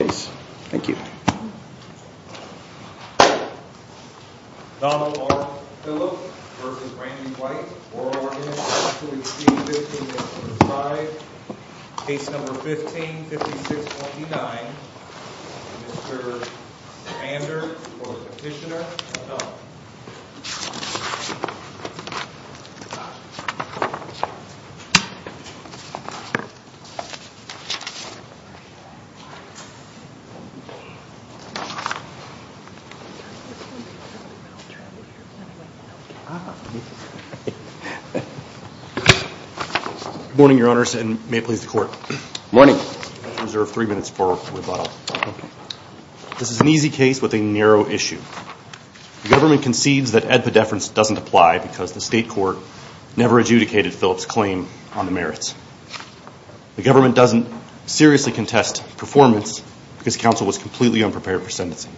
case. Thank you. Donald R. case number. Under I don't know if you can hear me, but I'm going to try to be as quiet as I possibly can. Good morning, your honors, and may it please the court. Morning. I reserve three minutes for rebuttal. Okay. This is an easy case with a narrow issue. The government concedes that edpedeference doesn't apply because the state court never adjudicated Phillips' claim on the merits. The government doesn't seriously contest performance because counsel was completely unprepared for sentencing.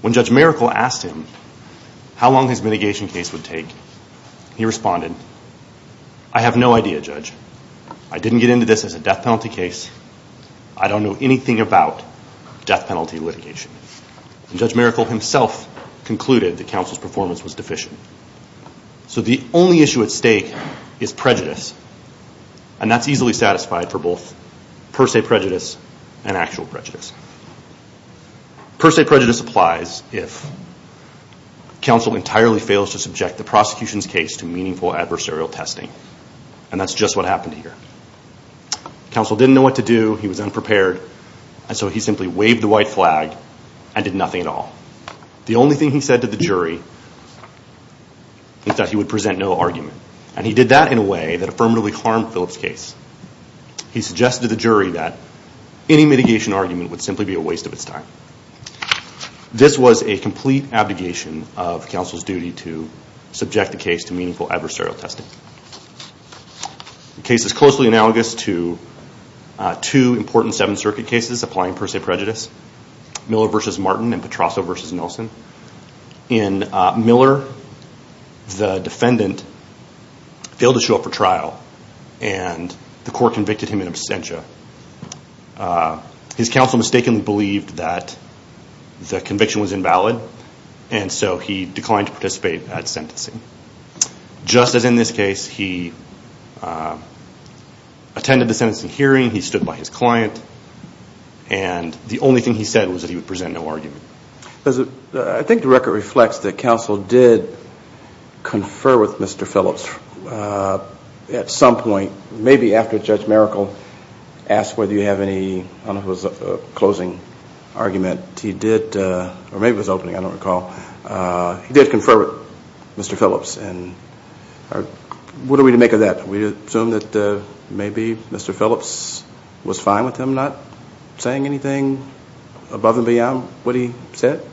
When Judge Maracle asked him how long his mitigation case would take, he responded, I have no idea, Judge. I didn't get into this as a death penalty case. I don't know anything about death penalty litigation. And Judge Maracle himself concluded that counsel's performance was deficient. So the only issue at stake is prejudice. And that's easily satisfied for both per se prejudice and actual prejudice. Per se prejudice applies if counsel entirely fails to subject the prosecution's case to meaningful adversarial testing. And that's just what happened here. Counsel didn't know what to do. He was unprepared. And so he simply waved the white flag and did nothing at all. The only thing he said to the jury is that he would present no argument. And he did that in a way that affirmatively harmed Phillips' case. He suggested to the jury that any mitigation argument would simply be a waste of its time. This was a complete abdication of counsel's duty to subject the case to meaningful adversarial testing. The case is closely analogous to two important Seventh Circuit cases applying per se prejudice, Miller v. Martin and Petrosso v. Nelson. In Miller, the defendant failed to show up for trial, and the court convicted him in absentia. His counsel mistakenly believed that the conviction was invalid, and so he declined to participate at sentencing. Just as in this case, he attended the sentencing hearing. He stood by his client. And the only thing he said was that he would present no argument. I think the record reflects that counsel did confer with Mr. Phillips at some point, maybe after Judge Maracle asked whether you have any, I don't know if it was a closing argument, he did, or maybe it was opening, I don't recall, he did confer with Mr. Phillips. And what are we to make of that? We assume that maybe Mr. Phillips was fine with him not saying anything above and beyond what he said?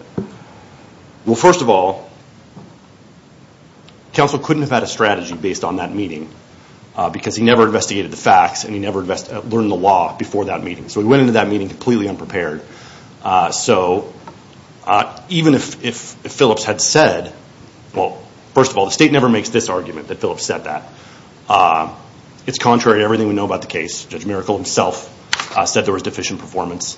Well, first of all, counsel couldn't have had a strategy based on that meeting because he never investigated the facts and he never learned the law before that meeting. So he went into that meeting completely unprepared. So even if Phillips had said, well, first of all, the state never makes this argument that Phillips said that. It's contrary to everything we know about the case. Judge Maracle himself said there was deficient performance.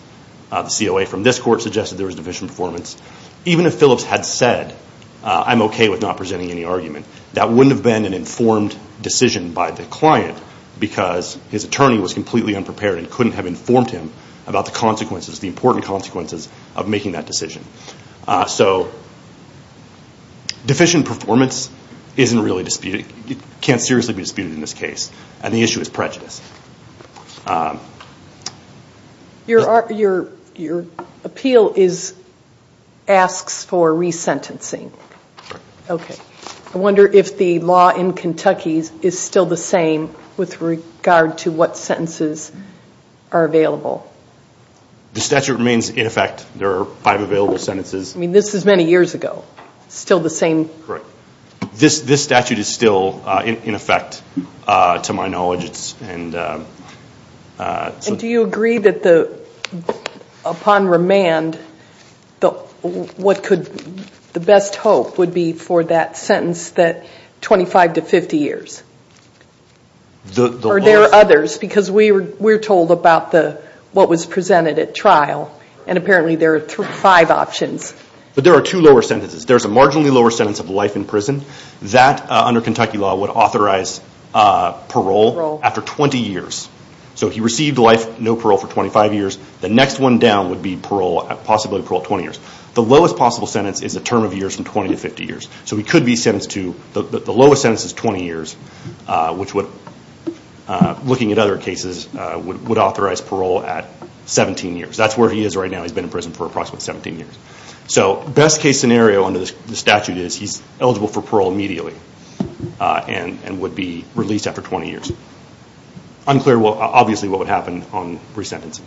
The COA from this court suggested there was deficient performance. Even if Phillips had said, I'm okay with not presenting any argument, that wouldn't have been an informed decision by the client because his attorney was completely unprepared and couldn't have informed him about the consequences, the important consequences of making that decision. So deficient performance isn't really disputed, can't seriously be disputed in this case. And the issue is prejudice. Your appeal asks for resentencing. Okay. I wonder if the law in Kentucky is still the same with regard to what sentences are available. The statute remains in effect. There are five available sentences. I mean, this is many years ago. Still the same? Correct. This statute is still in effect to my knowledge. And do you agree that upon remand, the best hope would be for that sentence that 25 to 50 years? Or are there others? Because we're told about what was presented at trial, and apparently there are five options. But there are two lower sentences. There's a marginally lower sentence of life in prison. That, under Kentucky law, would authorize parole after 20 years. So he received life, no parole for 25 years. The next one down would be parole, possibly parole 20 years. The lowest possible sentence is a term of years from 20 to 50 years. So he could be sentenced to, the lowest sentence is 20 years, which would, looking at other cases, would authorize parole at 17 years. That's where he is right now. He's been in prison for approximately 17 years. So best case scenario under the statute is he's eligible for parole immediately and would be released after 20 years. Unclear, obviously, what would happen on resentencing.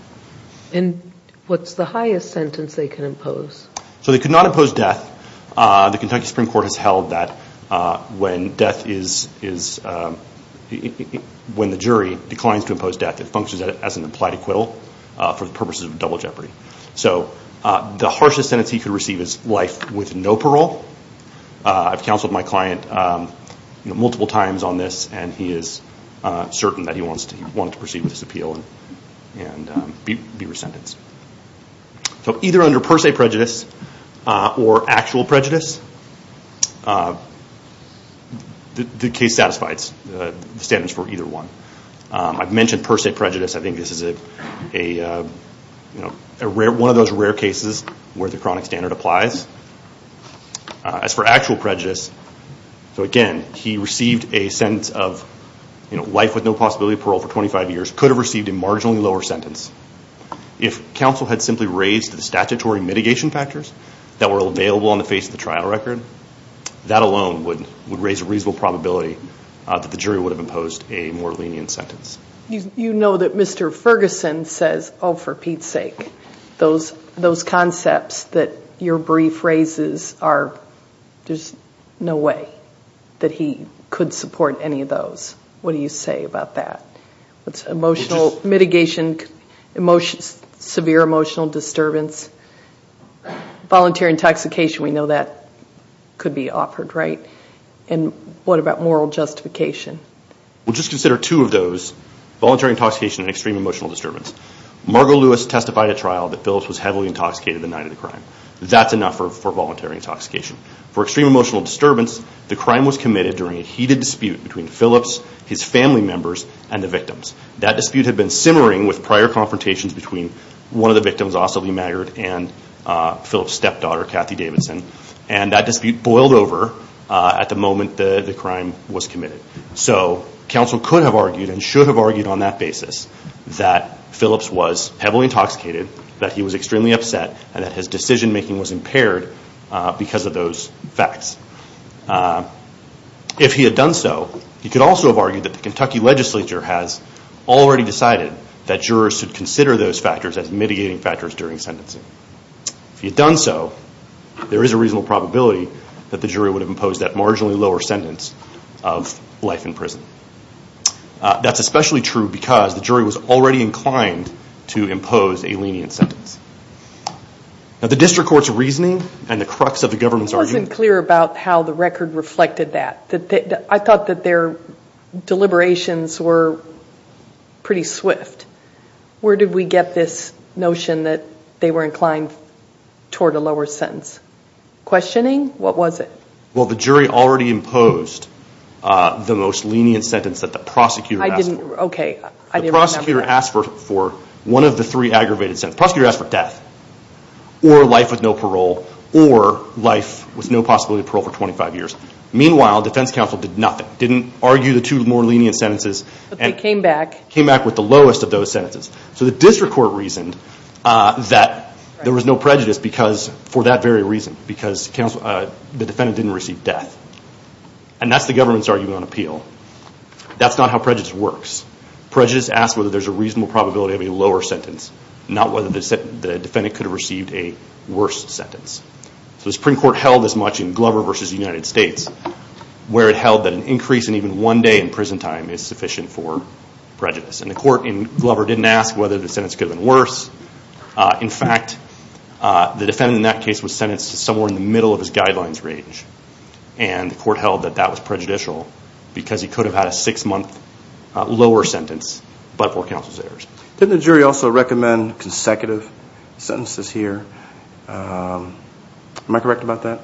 And what's the highest sentence they can impose? So they could not impose death. The Kentucky Supreme Court has held that when the jury declines to impose death, it functions as an implied acquittal for the purposes of double jeopardy. So the harshest sentence he could receive is life with no parole. I've counseled my client multiple times on this, and he is certain that he wants to proceed with this appeal and be resentenced. So either under per se prejudice or actual prejudice, the case satisfies the standards for either one. I've mentioned per se prejudice. I think this is one of those rare cases where the chronic standard applies. As for actual prejudice, so again, he received a sentence of life with no possibility of parole for 25 years, could have received a marginally lower sentence. If counsel had simply raised the statutory mitigation factors that were available on the face of the trial record, that alone would raise a reasonable probability that the jury would have imposed a more lenient sentence. You know that Mr. Ferguson says, oh, for Pete's sake, those concepts that your brief raises are, there's no way that he could support any of those. What do you say about that? Emotional mitigation, severe emotional disturbance, volunteer intoxication, we know that could be offered, right? And what about moral justification? We'll just consider two of those, voluntary intoxication and extreme emotional disturbance. Margo Lewis testified at trial that Phillips was heavily intoxicated the night of the crime. That's enough for voluntary intoxication. For extreme emotional disturbance, the crime was committed during a heated dispute between Phillips, his family members, and the victims. That dispute had been simmering with prior confrontations between one of the victims, also Lee Maggard, and Phillips' stepdaughter, Kathy Davidson, and that dispute boiled over at the moment the crime was committed. So counsel could have argued and should have argued on that basis that Phillips was heavily intoxicated, that he was extremely upset, and that his decision-making was impaired because of those facts. If he had done so, he could also have argued that the Kentucky legislature has already decided that jurors should consider those factors as mitigating factors during sentencing. If he had done so, there is a reasonable probability that the jury would have imposed that marginally lower sentence of life in prison. That's especially true because the jury was already inclined to impose a lenient sentence. Now the district court's reasoning and the crux of the government's argument... It wasn't clear about how the record reflected that. I thought that their deliberations were pretty swift. Where did we get this notion that they were inclined toward a lower sentence? Questioning? What was it? Well, the jury already imposed the most lenient sentence that the prosecutor asked for. Okay. I didn't remember that. The prosecutor asked for one of the three aggravated sentences. The prosecutor asked for death or life with no parole or life with no possibility of parole for 25 years. Meanwhile, defense counsel did nothing. Didn't argue the two more lenient sentences. But they came back. Came back with the lowest of those sentences. So the district court reasoned that there was no prejudice for that very reason because the defendant didn't receive death. And that's the government's argument on appeal. That's not how prejudice works. Prejudice asks whether there's a reasonable probability of a lower sentence, not whether the defendant could have received a worse sentence. So the Supreme Court held as much in Glover v. United States where it held that an increase in even one day in prison time is sufficient for prejudice. And the court in Glover didn't ask whether the sentence could have been worse. In fact, the defendant in that case was sentenced to somewhere in the middle of his guidelines range. And the court held that that was prejudicial because he could have had a six-month lower sentence but for counsel's errors. Didn't the jury also recommend consecutive sentences here? Am I correct about that?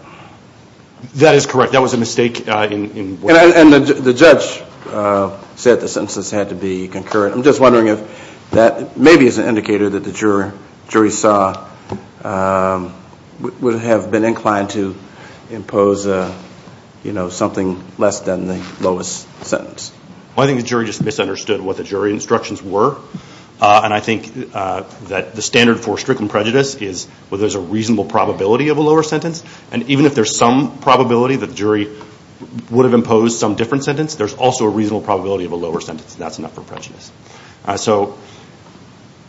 That is correct. That was a mistake in what was said. And the judge said the sentences had to be concurrent. I'm just wondering if that maybe is an indicator that the jury saw would have been inclined to impose something less than the lowest sentence. I think the jury just misunderstood what the jury instructions were. And I think that the standard for stricken prejudice is whether there's a reasonable probability of a lower sentence. And even if there's some probability that the jury would have imposed some different sentence, there's also a reasonable probability of a lower sentence. And that's enough for prejudice. So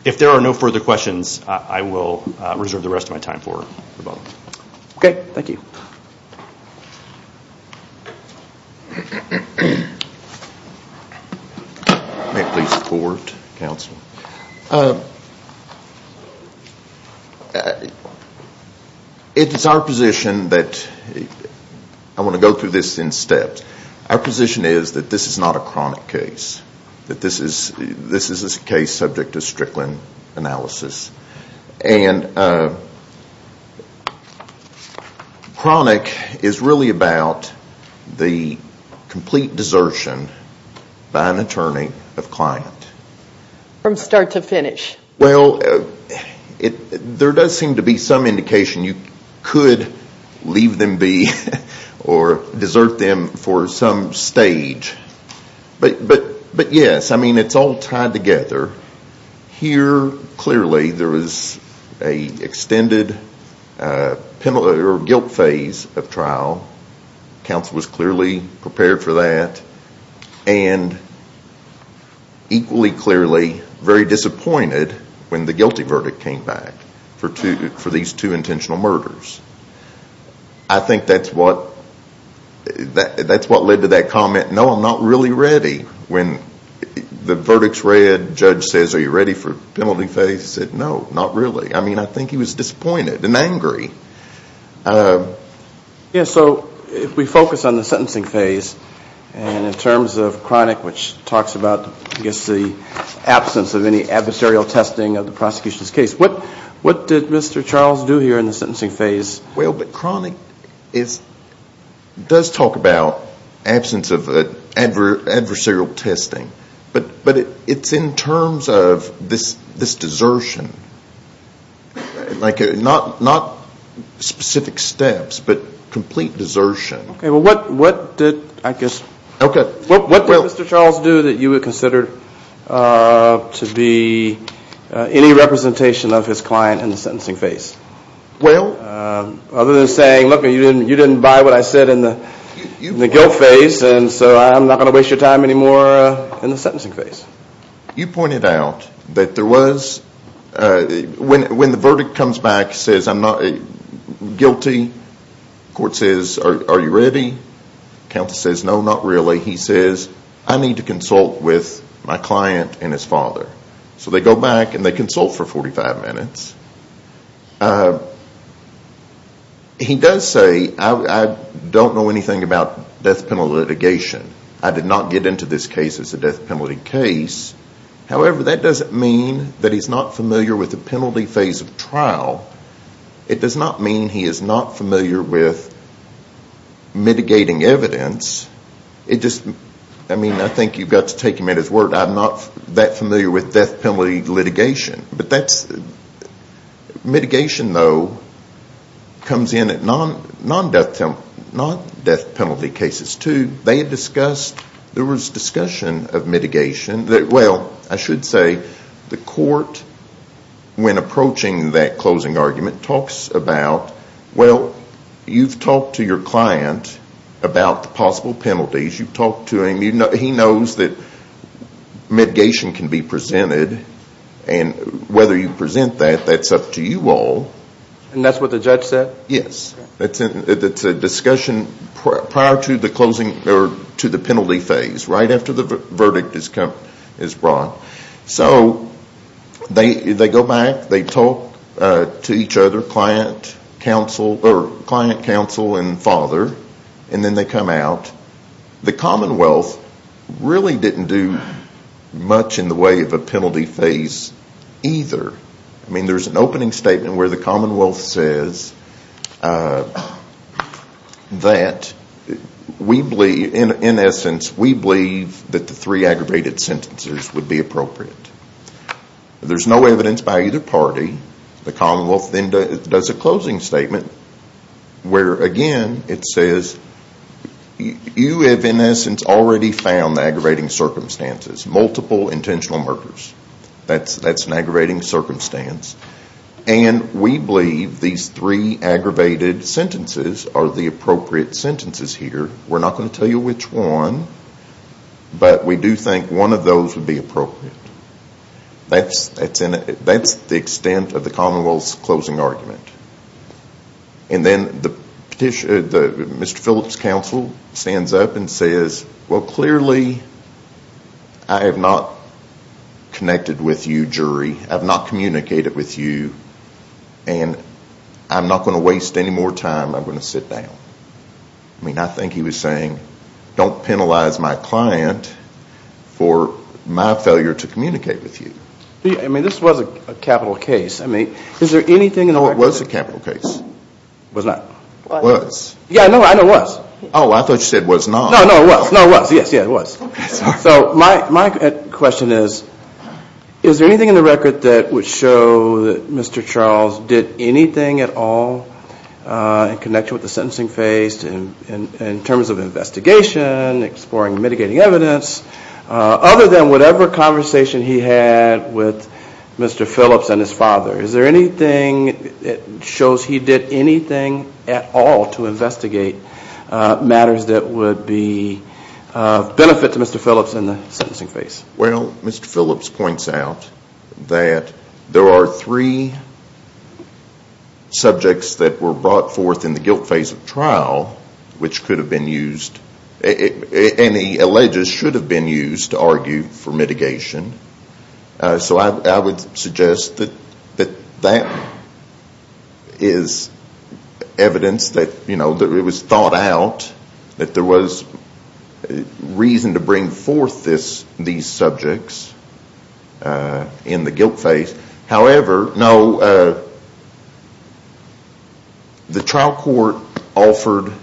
if there are no further questions, I will reserve the rest of my time for rebuttal. Okay. Thank you. May I please forward, counsel? It is our position that I want to go through this in steps. Our position is that this is not a chronic case. That this is a case subject to strickland analysis. And chronic is really about the complete desertion by an attorney of client. From start to finish. Well, there does seem to be some indication you could leave them be or desert them for some stage. But yes, I mean, it's all tied together. Here, clearly, there was an extended guilt phase of trial. Counsel was clearly prepared for that. And equally clearly, very disappointed when the guilty verdict came back for these two intentional murders. I think that's what led to that comment, no, I'm not really ready. When the verdict's read, judge says, are you ready for penalty phase? He said, no, not really. I mean, I think he was disappointed and angry. Yeah, so if we focus on the sentencing phase, and in terms of chronic, which talks about, I guess, the absence of any adversarial testing of the prosecution's case. What did Mr. Charles do here in the sentencing phase? Well, but chronic does talk about absence of adversarial testing. But it's in terms of this desertion, like not specific steps, but complete desertion. Okay, well, what did, I guess, what did Mr. Charles do that you would consider to be any representation of his client in the sentencing phase? Well. Other than saying, look, you didn't buy what I said in the guilt phase, and so I'm not going to waste your time anymore in the sentencing phase. You pointed out that there was, when the verdict comes back, says, I'm not guilty, court says, are you ready? Counsel says, no, not really. He says, I need to consult with my client and his father. So they go back and they consult for 45 minutes. He does say, I don't know anything about death penalty litigation. I did not get into this case as a death penalty case. However, that doesn't mean that he's not familiar with the penalty phase of trial. It does not mean he is not familiar with mitigating evidence. It just, I mean, I think you've got to take him at his word. I'm not that familiar with death penalty litigation. But that's, mitigation, though, comes in at non-death penalty cases, too. They had discussed, there was discussion of mitigation. Well, I should say, the court, when approaching that closing argument, talks about, well, you've talked to your client about the possible penalties. You've talked to him. He knows that mitigation can be presented. And whether you present that, that's up to you all. And that's what the judge said? Yes. It's a discussion prior to the closing, or to the penalty phase, right after the verdict is brought. So they go back. They talk to each other, client, counsel, and father. And then they come out. The Commonwealth really didn't do much in the way of a penalty phase either. I mean, there's an opening statement where the Commonwealth says that we believe, in essence, we believe that the three aggravated sentences would be appropriate. There's no evidence by either party. The Commonwealth then does a closing statement where, again, it says, you have, in essence, already found the aggravating circumstances, multiple intentional murders. That's an aggravating circumstance. And we believe these three aggravated sentences are the appropriate sentences here. We're not going to tell you which one. But we do think one of those would be appropriate. That's the extent of the Commonwealth's closing argument. And then Mr. Phillips' counsel stands up and says, well, clearly I have not connected with you, jury. I've not communicated with you. And I'm not going to waste any more time. I'm going to sit down. I mean, I think he was saying, don't penalize my client for my failure to communicate with you. I mean, this was a capital case. I mean, is there anything in the record? It was a capital case. It was not. It was. Yeah, no, I know it was. Oh, I thought you said it was not. No, no, it was. No, it was. Yes, yes, it was. So my question is, is there anything in the record that would show that Mr. Charles did anything at all in connection with the sentencing phase in terms of investigation, exploring, mitigating evidence, other than whatever conversation he had with Mr. Phillips and his father? Is there anything that shows he did anything at all to investigate matters that would benefit Mr. Phillips and the sentencing phase? Well, Mr. Phillips points out that there are three subjects that were brought forth in the guilt phase of trial, which could have been used, and he alleges should have been used to argue for mitigation. So I would suggest that that is evidence that it was thought out, that there was reason to bring forth these subjects in the guilt phase. However, no, the trial court offered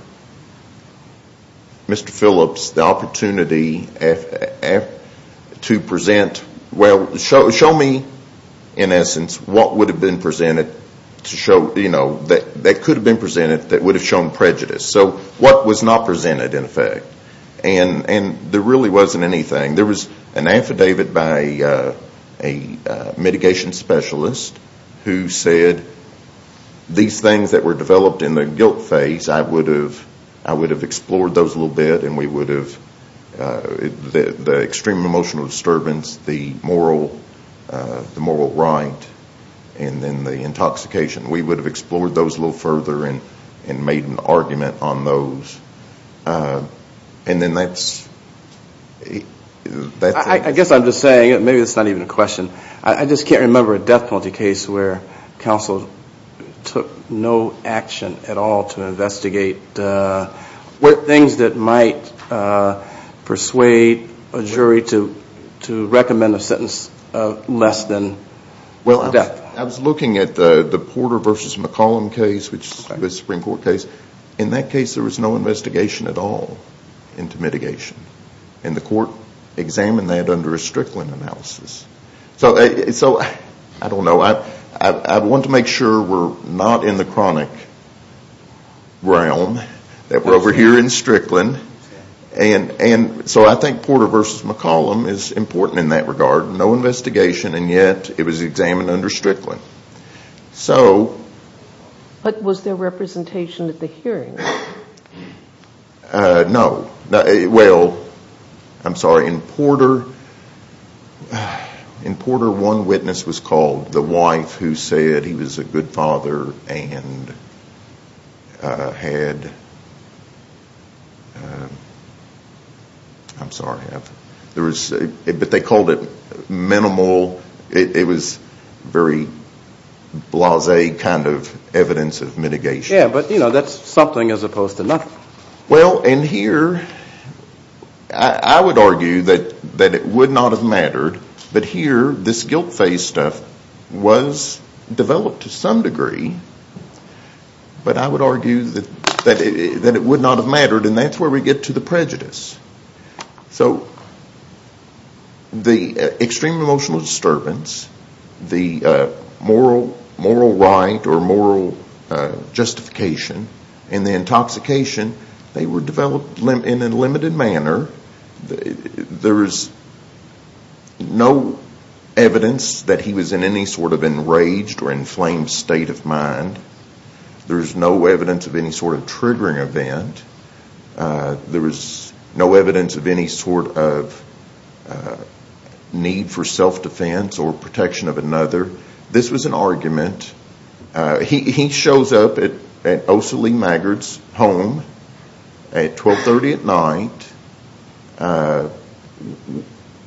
Mr. Phillips the opportunity to present, well, show me, in essence, what would have been presented that could have been presented that would have shown prejudice. So what was not presented, in effect? And there really wasn't anything. There was an affidavit by a mitigation specialist who said these things that were developed in the guilt phase, I would have explored those a little bit, and we would have, the extreme emotional disturbance, the moral right, and then the intoxication, we would have explored those a little further and made an argument on those. And then that's it. I guess I'm just saying, maybe it's not even a question, I just can't remember a death penalty case where counsel took no action at all to investigate things that might persuade a jury to recommend a sentence less than death. I was looking at the Porter v. McCollum case, which is a Supreme Court case. In that case, there was no investigation at all into mitigation. And the court examined that under a Strickland analysis. So I don't know. I want to make sure we're not in the chronic realm, that we're over here in Strickland. And so I think Porter v. McCollum is important in that regard. No investigation, and yet it was examined under Strickland. But was there representation at the hearing? No. Well, I'm sorry. In Porter, one witness was called, the wife who said he was a good father and had, I'm sorry. But they called it minimal. It was very blasé kind of evidence of mitigation. Yeah, but, you know, that's something as opposed to nothing. Well, and here, I would argue that it would not have mattered. But here, this guilt phase stuff was developed to some degree. But I would argue that it would not have mattered. And that's where we get to the prejudice. So the extreme emotional disturbance, the moral right or moral justification, and the intoxication, they were developed in a limited manner. There is no evidence that he was in any sort of enraged or inflamed state of mind. There is no evidence of any sort of triggering event. There is no evidence of any sort of need for self-defense or protection of another. This was an argument. He shows up at Ossalie Maggard's home at 12.30 at night.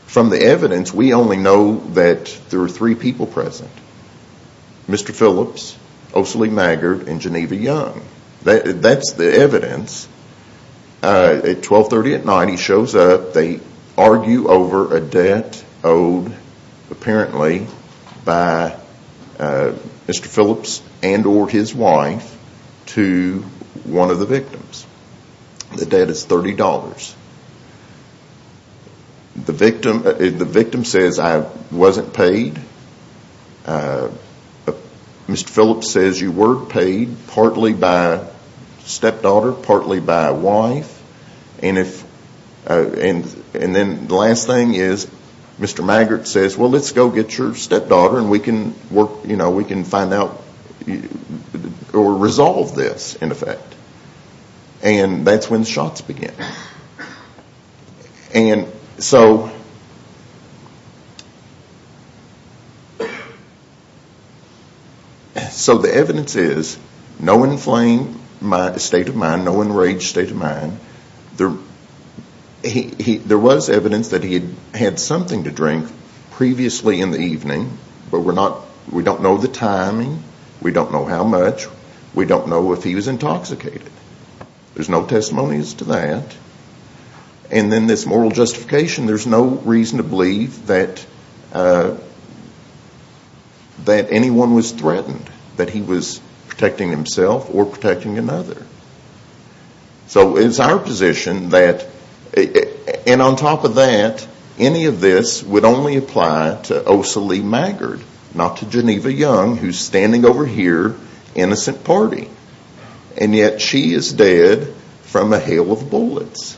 From the evidence, we only know that there were three people present, Mr. Phillips, Ossalie Maggard, and Geneva Young. That's the evidence. At 12.30 at night, he shows up. They argue over a debt owed, apparently, by Mr. Phillips and or his wife to one of the victims. The debt is $30. The victim says, I wasn't paid. Mr. Phillips says, you were paid partly by a stepdaughter, partly by a wife. And then the last thing is Mr. Maggard says, well, let's go get your stepdaughter and we can find out or resolve this, in effect. And that's when the shots begin. And so the evidence is no inflamed state of mind, no enraged state of mind. There was evidence that he had something to drink previously in the evening, but we don't know the timing. We don't know how much. We don't know if he was intoxicated. There's no testimonies to that. And then this moral justification, there's no reason to believe that anyone was threatened, that he was protecting himself or protecting another. So it's our position that, and on top of that, any of this would only apply to Ossalie Maggard, not to Geneva Young, who's standing over here, innocent party. And yet she is dead from a hail of bullets.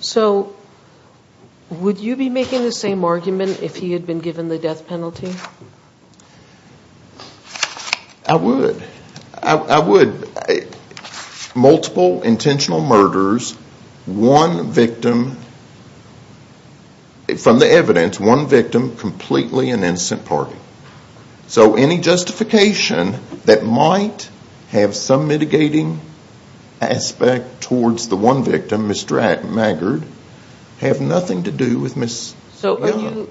So would you be making the same argument if he had been given the death penalty? I would. I would. Multiple intentional murders, one victim, from the evidence, one victim, completely an innocent party. So any justification that might have some mitigating aspect towards the one victim, Ms. Maggard, have nothing to do with Ms. Young.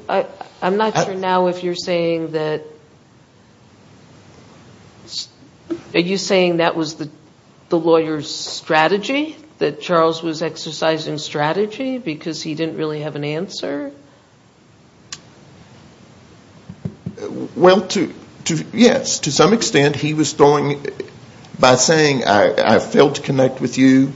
I'm not sure now if you're saying that, are you saying that was the lawyer's strategy, that Charles was exercising strategy because he didn't really have an answer? Well, yes, to some extent he was throwing, by saying, I failed to connect with you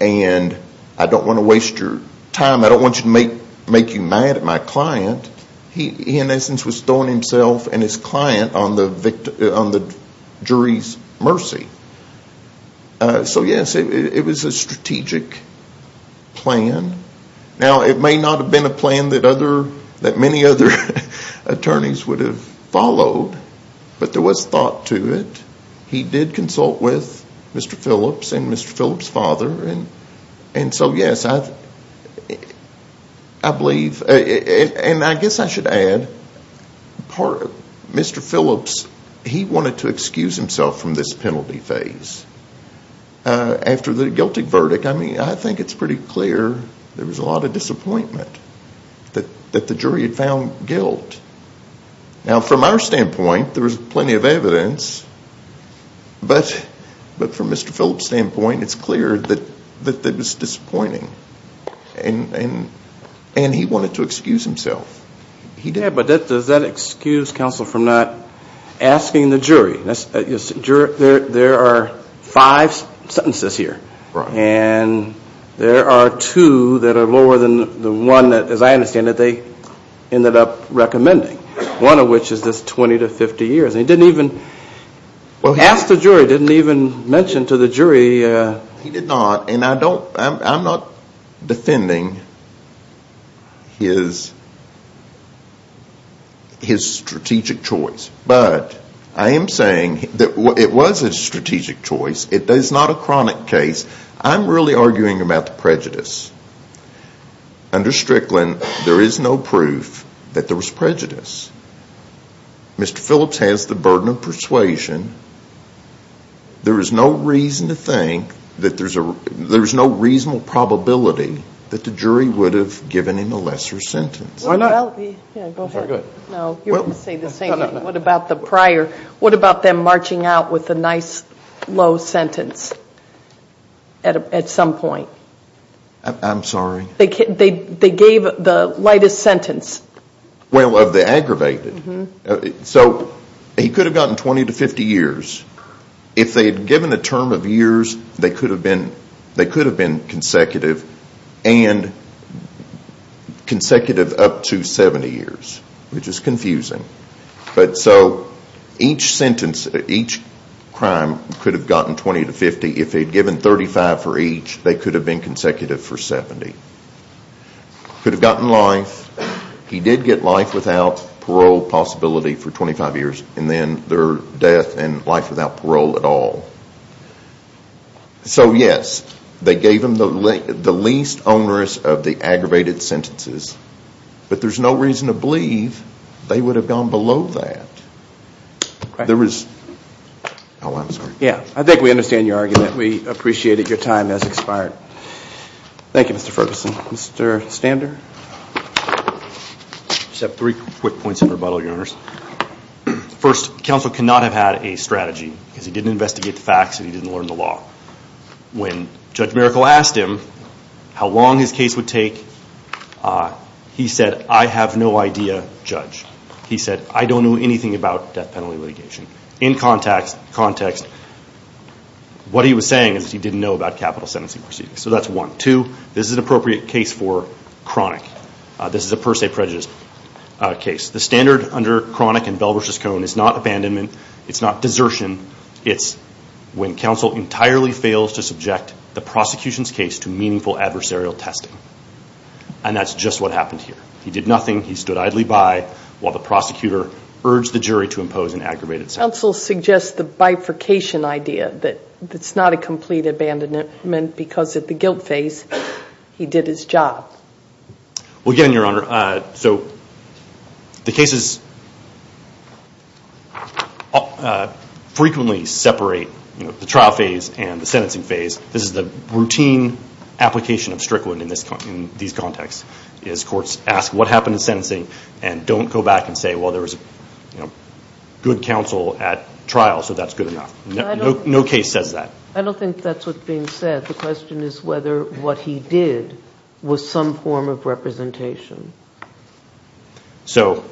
and I don't want to waste your time. I don't want to make you mad at my client. He, in essence, was throwing himself and his client on the jury's mercy. So, yes, it was a strategic plan. Now, it may not have been a plan that many other attorneys would have followed, but there was thought to it. He did consult with Mr. Phillips and Mr. Phillips' father. And so, yes, I believe, and I guess I should add, Mr. Phillips, he wanted to excuse himself from this penalty phase. After the guilty verdict, I mean, I think it's pretty clear there was a lot of disappointment that the jury had found guilt. Now, from our standpoint, there was plenty of evidence, but from Mr. Phillips' standpoint, it's clear that it was disappointing. And he wanted to excuse himself. Yeah, but does that excuse counsel from not asking the jury? There are five sentences here, and there are two that are lower than the one that, as I understand it, they ended up recommending, one of which is this 20 to 50 years. He didn't even ask the jury, didn't even mention to the jury. He did not, and I'm not defending his strategic choice. But I am saying that it was a strategic choice. It is not a chronic case. I'm really arguing about the prejudice. Under Strickland, there is no proof that there was prejudice. Mr. Phillips has the burden of persuasion. There is no reason to think that there's no reasonable probability that the jury would have given him a lesser sentence. No, you're going to say the same thing. What about the prior? What about them marching out with a nice, low sentence at some point? I'm sorry? They gave the lightest sentence. Well, of the aggravated. So he could have gotten 20 to 50 years. If they had given a term of years, they could have been consecutive, and consecutive up to 70 years, which is confusing. So each crime could have gotten 20 to 50. If they had given 35 for each, they could have been consecutive for 70. Could have gotten life. He did get life without parole possibility for 25 years, and then their death and life without parole at all. So, yes, they gave him the least onerous of the aggravated sentences, but there's no reason to believe they would have gone below that. I think we understand your argument. We appreciate it. Your time has expired. Thank you, Mr. Ferguson. Mr. Stander? I just have three quick points of rebuttal, Your Honors. First, counsel cannot have had a strategy, because he didn't investigate the facts and he didn't learn the law. When Judge Miracle asked him how long his case would take, he said, I have no idea, Judge. He said, I don't know anything about death penalty litigation. In context, what he was saying is he didn't know about capital sentencing proceedings. So that's one. Two, this is an appropriate case for chronic. This is a per se prejudice case. The standard under chronic and Bell v. Cohn is not abandonment, it's not desertion, it's when counsel entirely fails to subject the prosecution's case to meaningful adversarial testing. And that's just what happened here. He did nothing. He stood idly by while the prosecutor urged the jury to impose an aggravated sentence. Counsel suggests the bifurcation idea that it's not a complete abandonment because at the guilt phase he did his job. Well, again, Your Honor, so the cases frequently separate the trial phase and the sentencing phase. This is the routine application of Strickland in these contexts is courts ask what happened in sentencing and don't go back and say, well, there was good counsel at trial, so that's good enough. No case says that. I don't think that's what's being said. The question is whether what he did was some form of representation. So,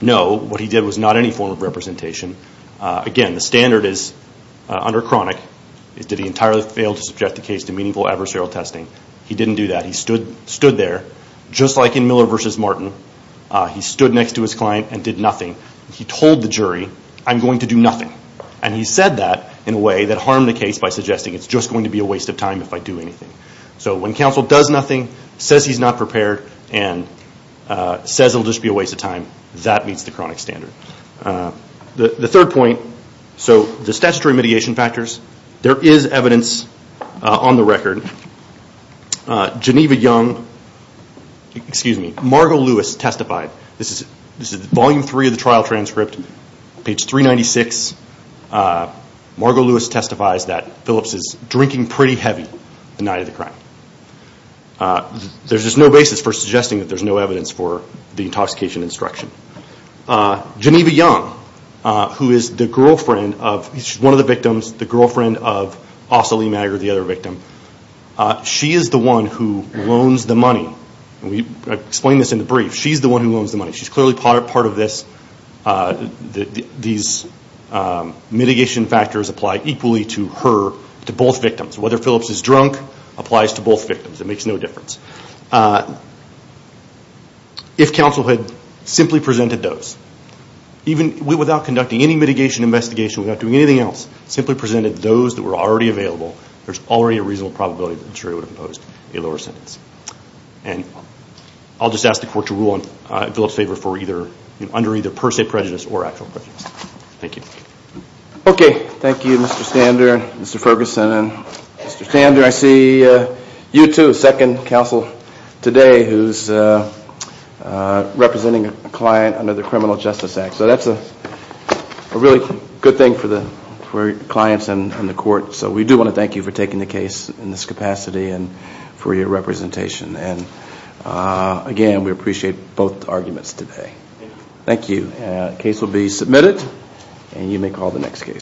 no, what he did was not any form of representation. Again, the standard is under chronic, did he entirely fail to subject the case to meaningful adversarial testing? He didn't do that. He stood there just like in Miller v. Martin. He stood next to his client and did nothing. He told the jury, I'm going to do nothing. And he said that in a way that harmed the case by suggesting it's just going to be a waste of time if I do anything. So when counsel does nothing, says he's not prepared, and says it'll just be a waste of time, that meets the chronic standard. The third point, so the statutory mitigation factors, there is evidence on the record. Geneva Young, excuse me, Margo Lewis testified. This is volume three of the trial transcript, page 396. Margo Lewis testifies that Phillips is drinking pretty heavy the night of the crime. There's just no basis for suggesting that there's no evidence for the intoxication instruction. Geneva Young, who is the girlfriend of, she's one of the victims, the girlfriend of Asa Lee Maggard, the other victim. She is the one who loans the money. I explained this in the brief. She's the one who loans the money. She's clearly part of this. These mitigation factors apply equally to her, to both victims. Whether Phillips is drunk applies to both victims. It makes no difference. If counsel had simply presented those, even without conducting any mitigation investigation, without doing anything else, simply presented those that were already available, there's already a reasonable probability that the jury would have imposed a lower sentence. And I'll just ask the court to rule on Phillips' favor for either, under either per se prejudice or actual prejudice. Thank you. Okay. Thank you, Mr. Stander, Mr. Ferguson, and Mr. Stander. I see you two, second counsel today, who's representing a client under the Criminal Justice Act. So that's a really good thing for clients and the court. So we do want to thank you for taking the case in this capacity and for your representation. And, again, we appreciate both arguments today. Thank you. The case will be submitted, and you may call the next case.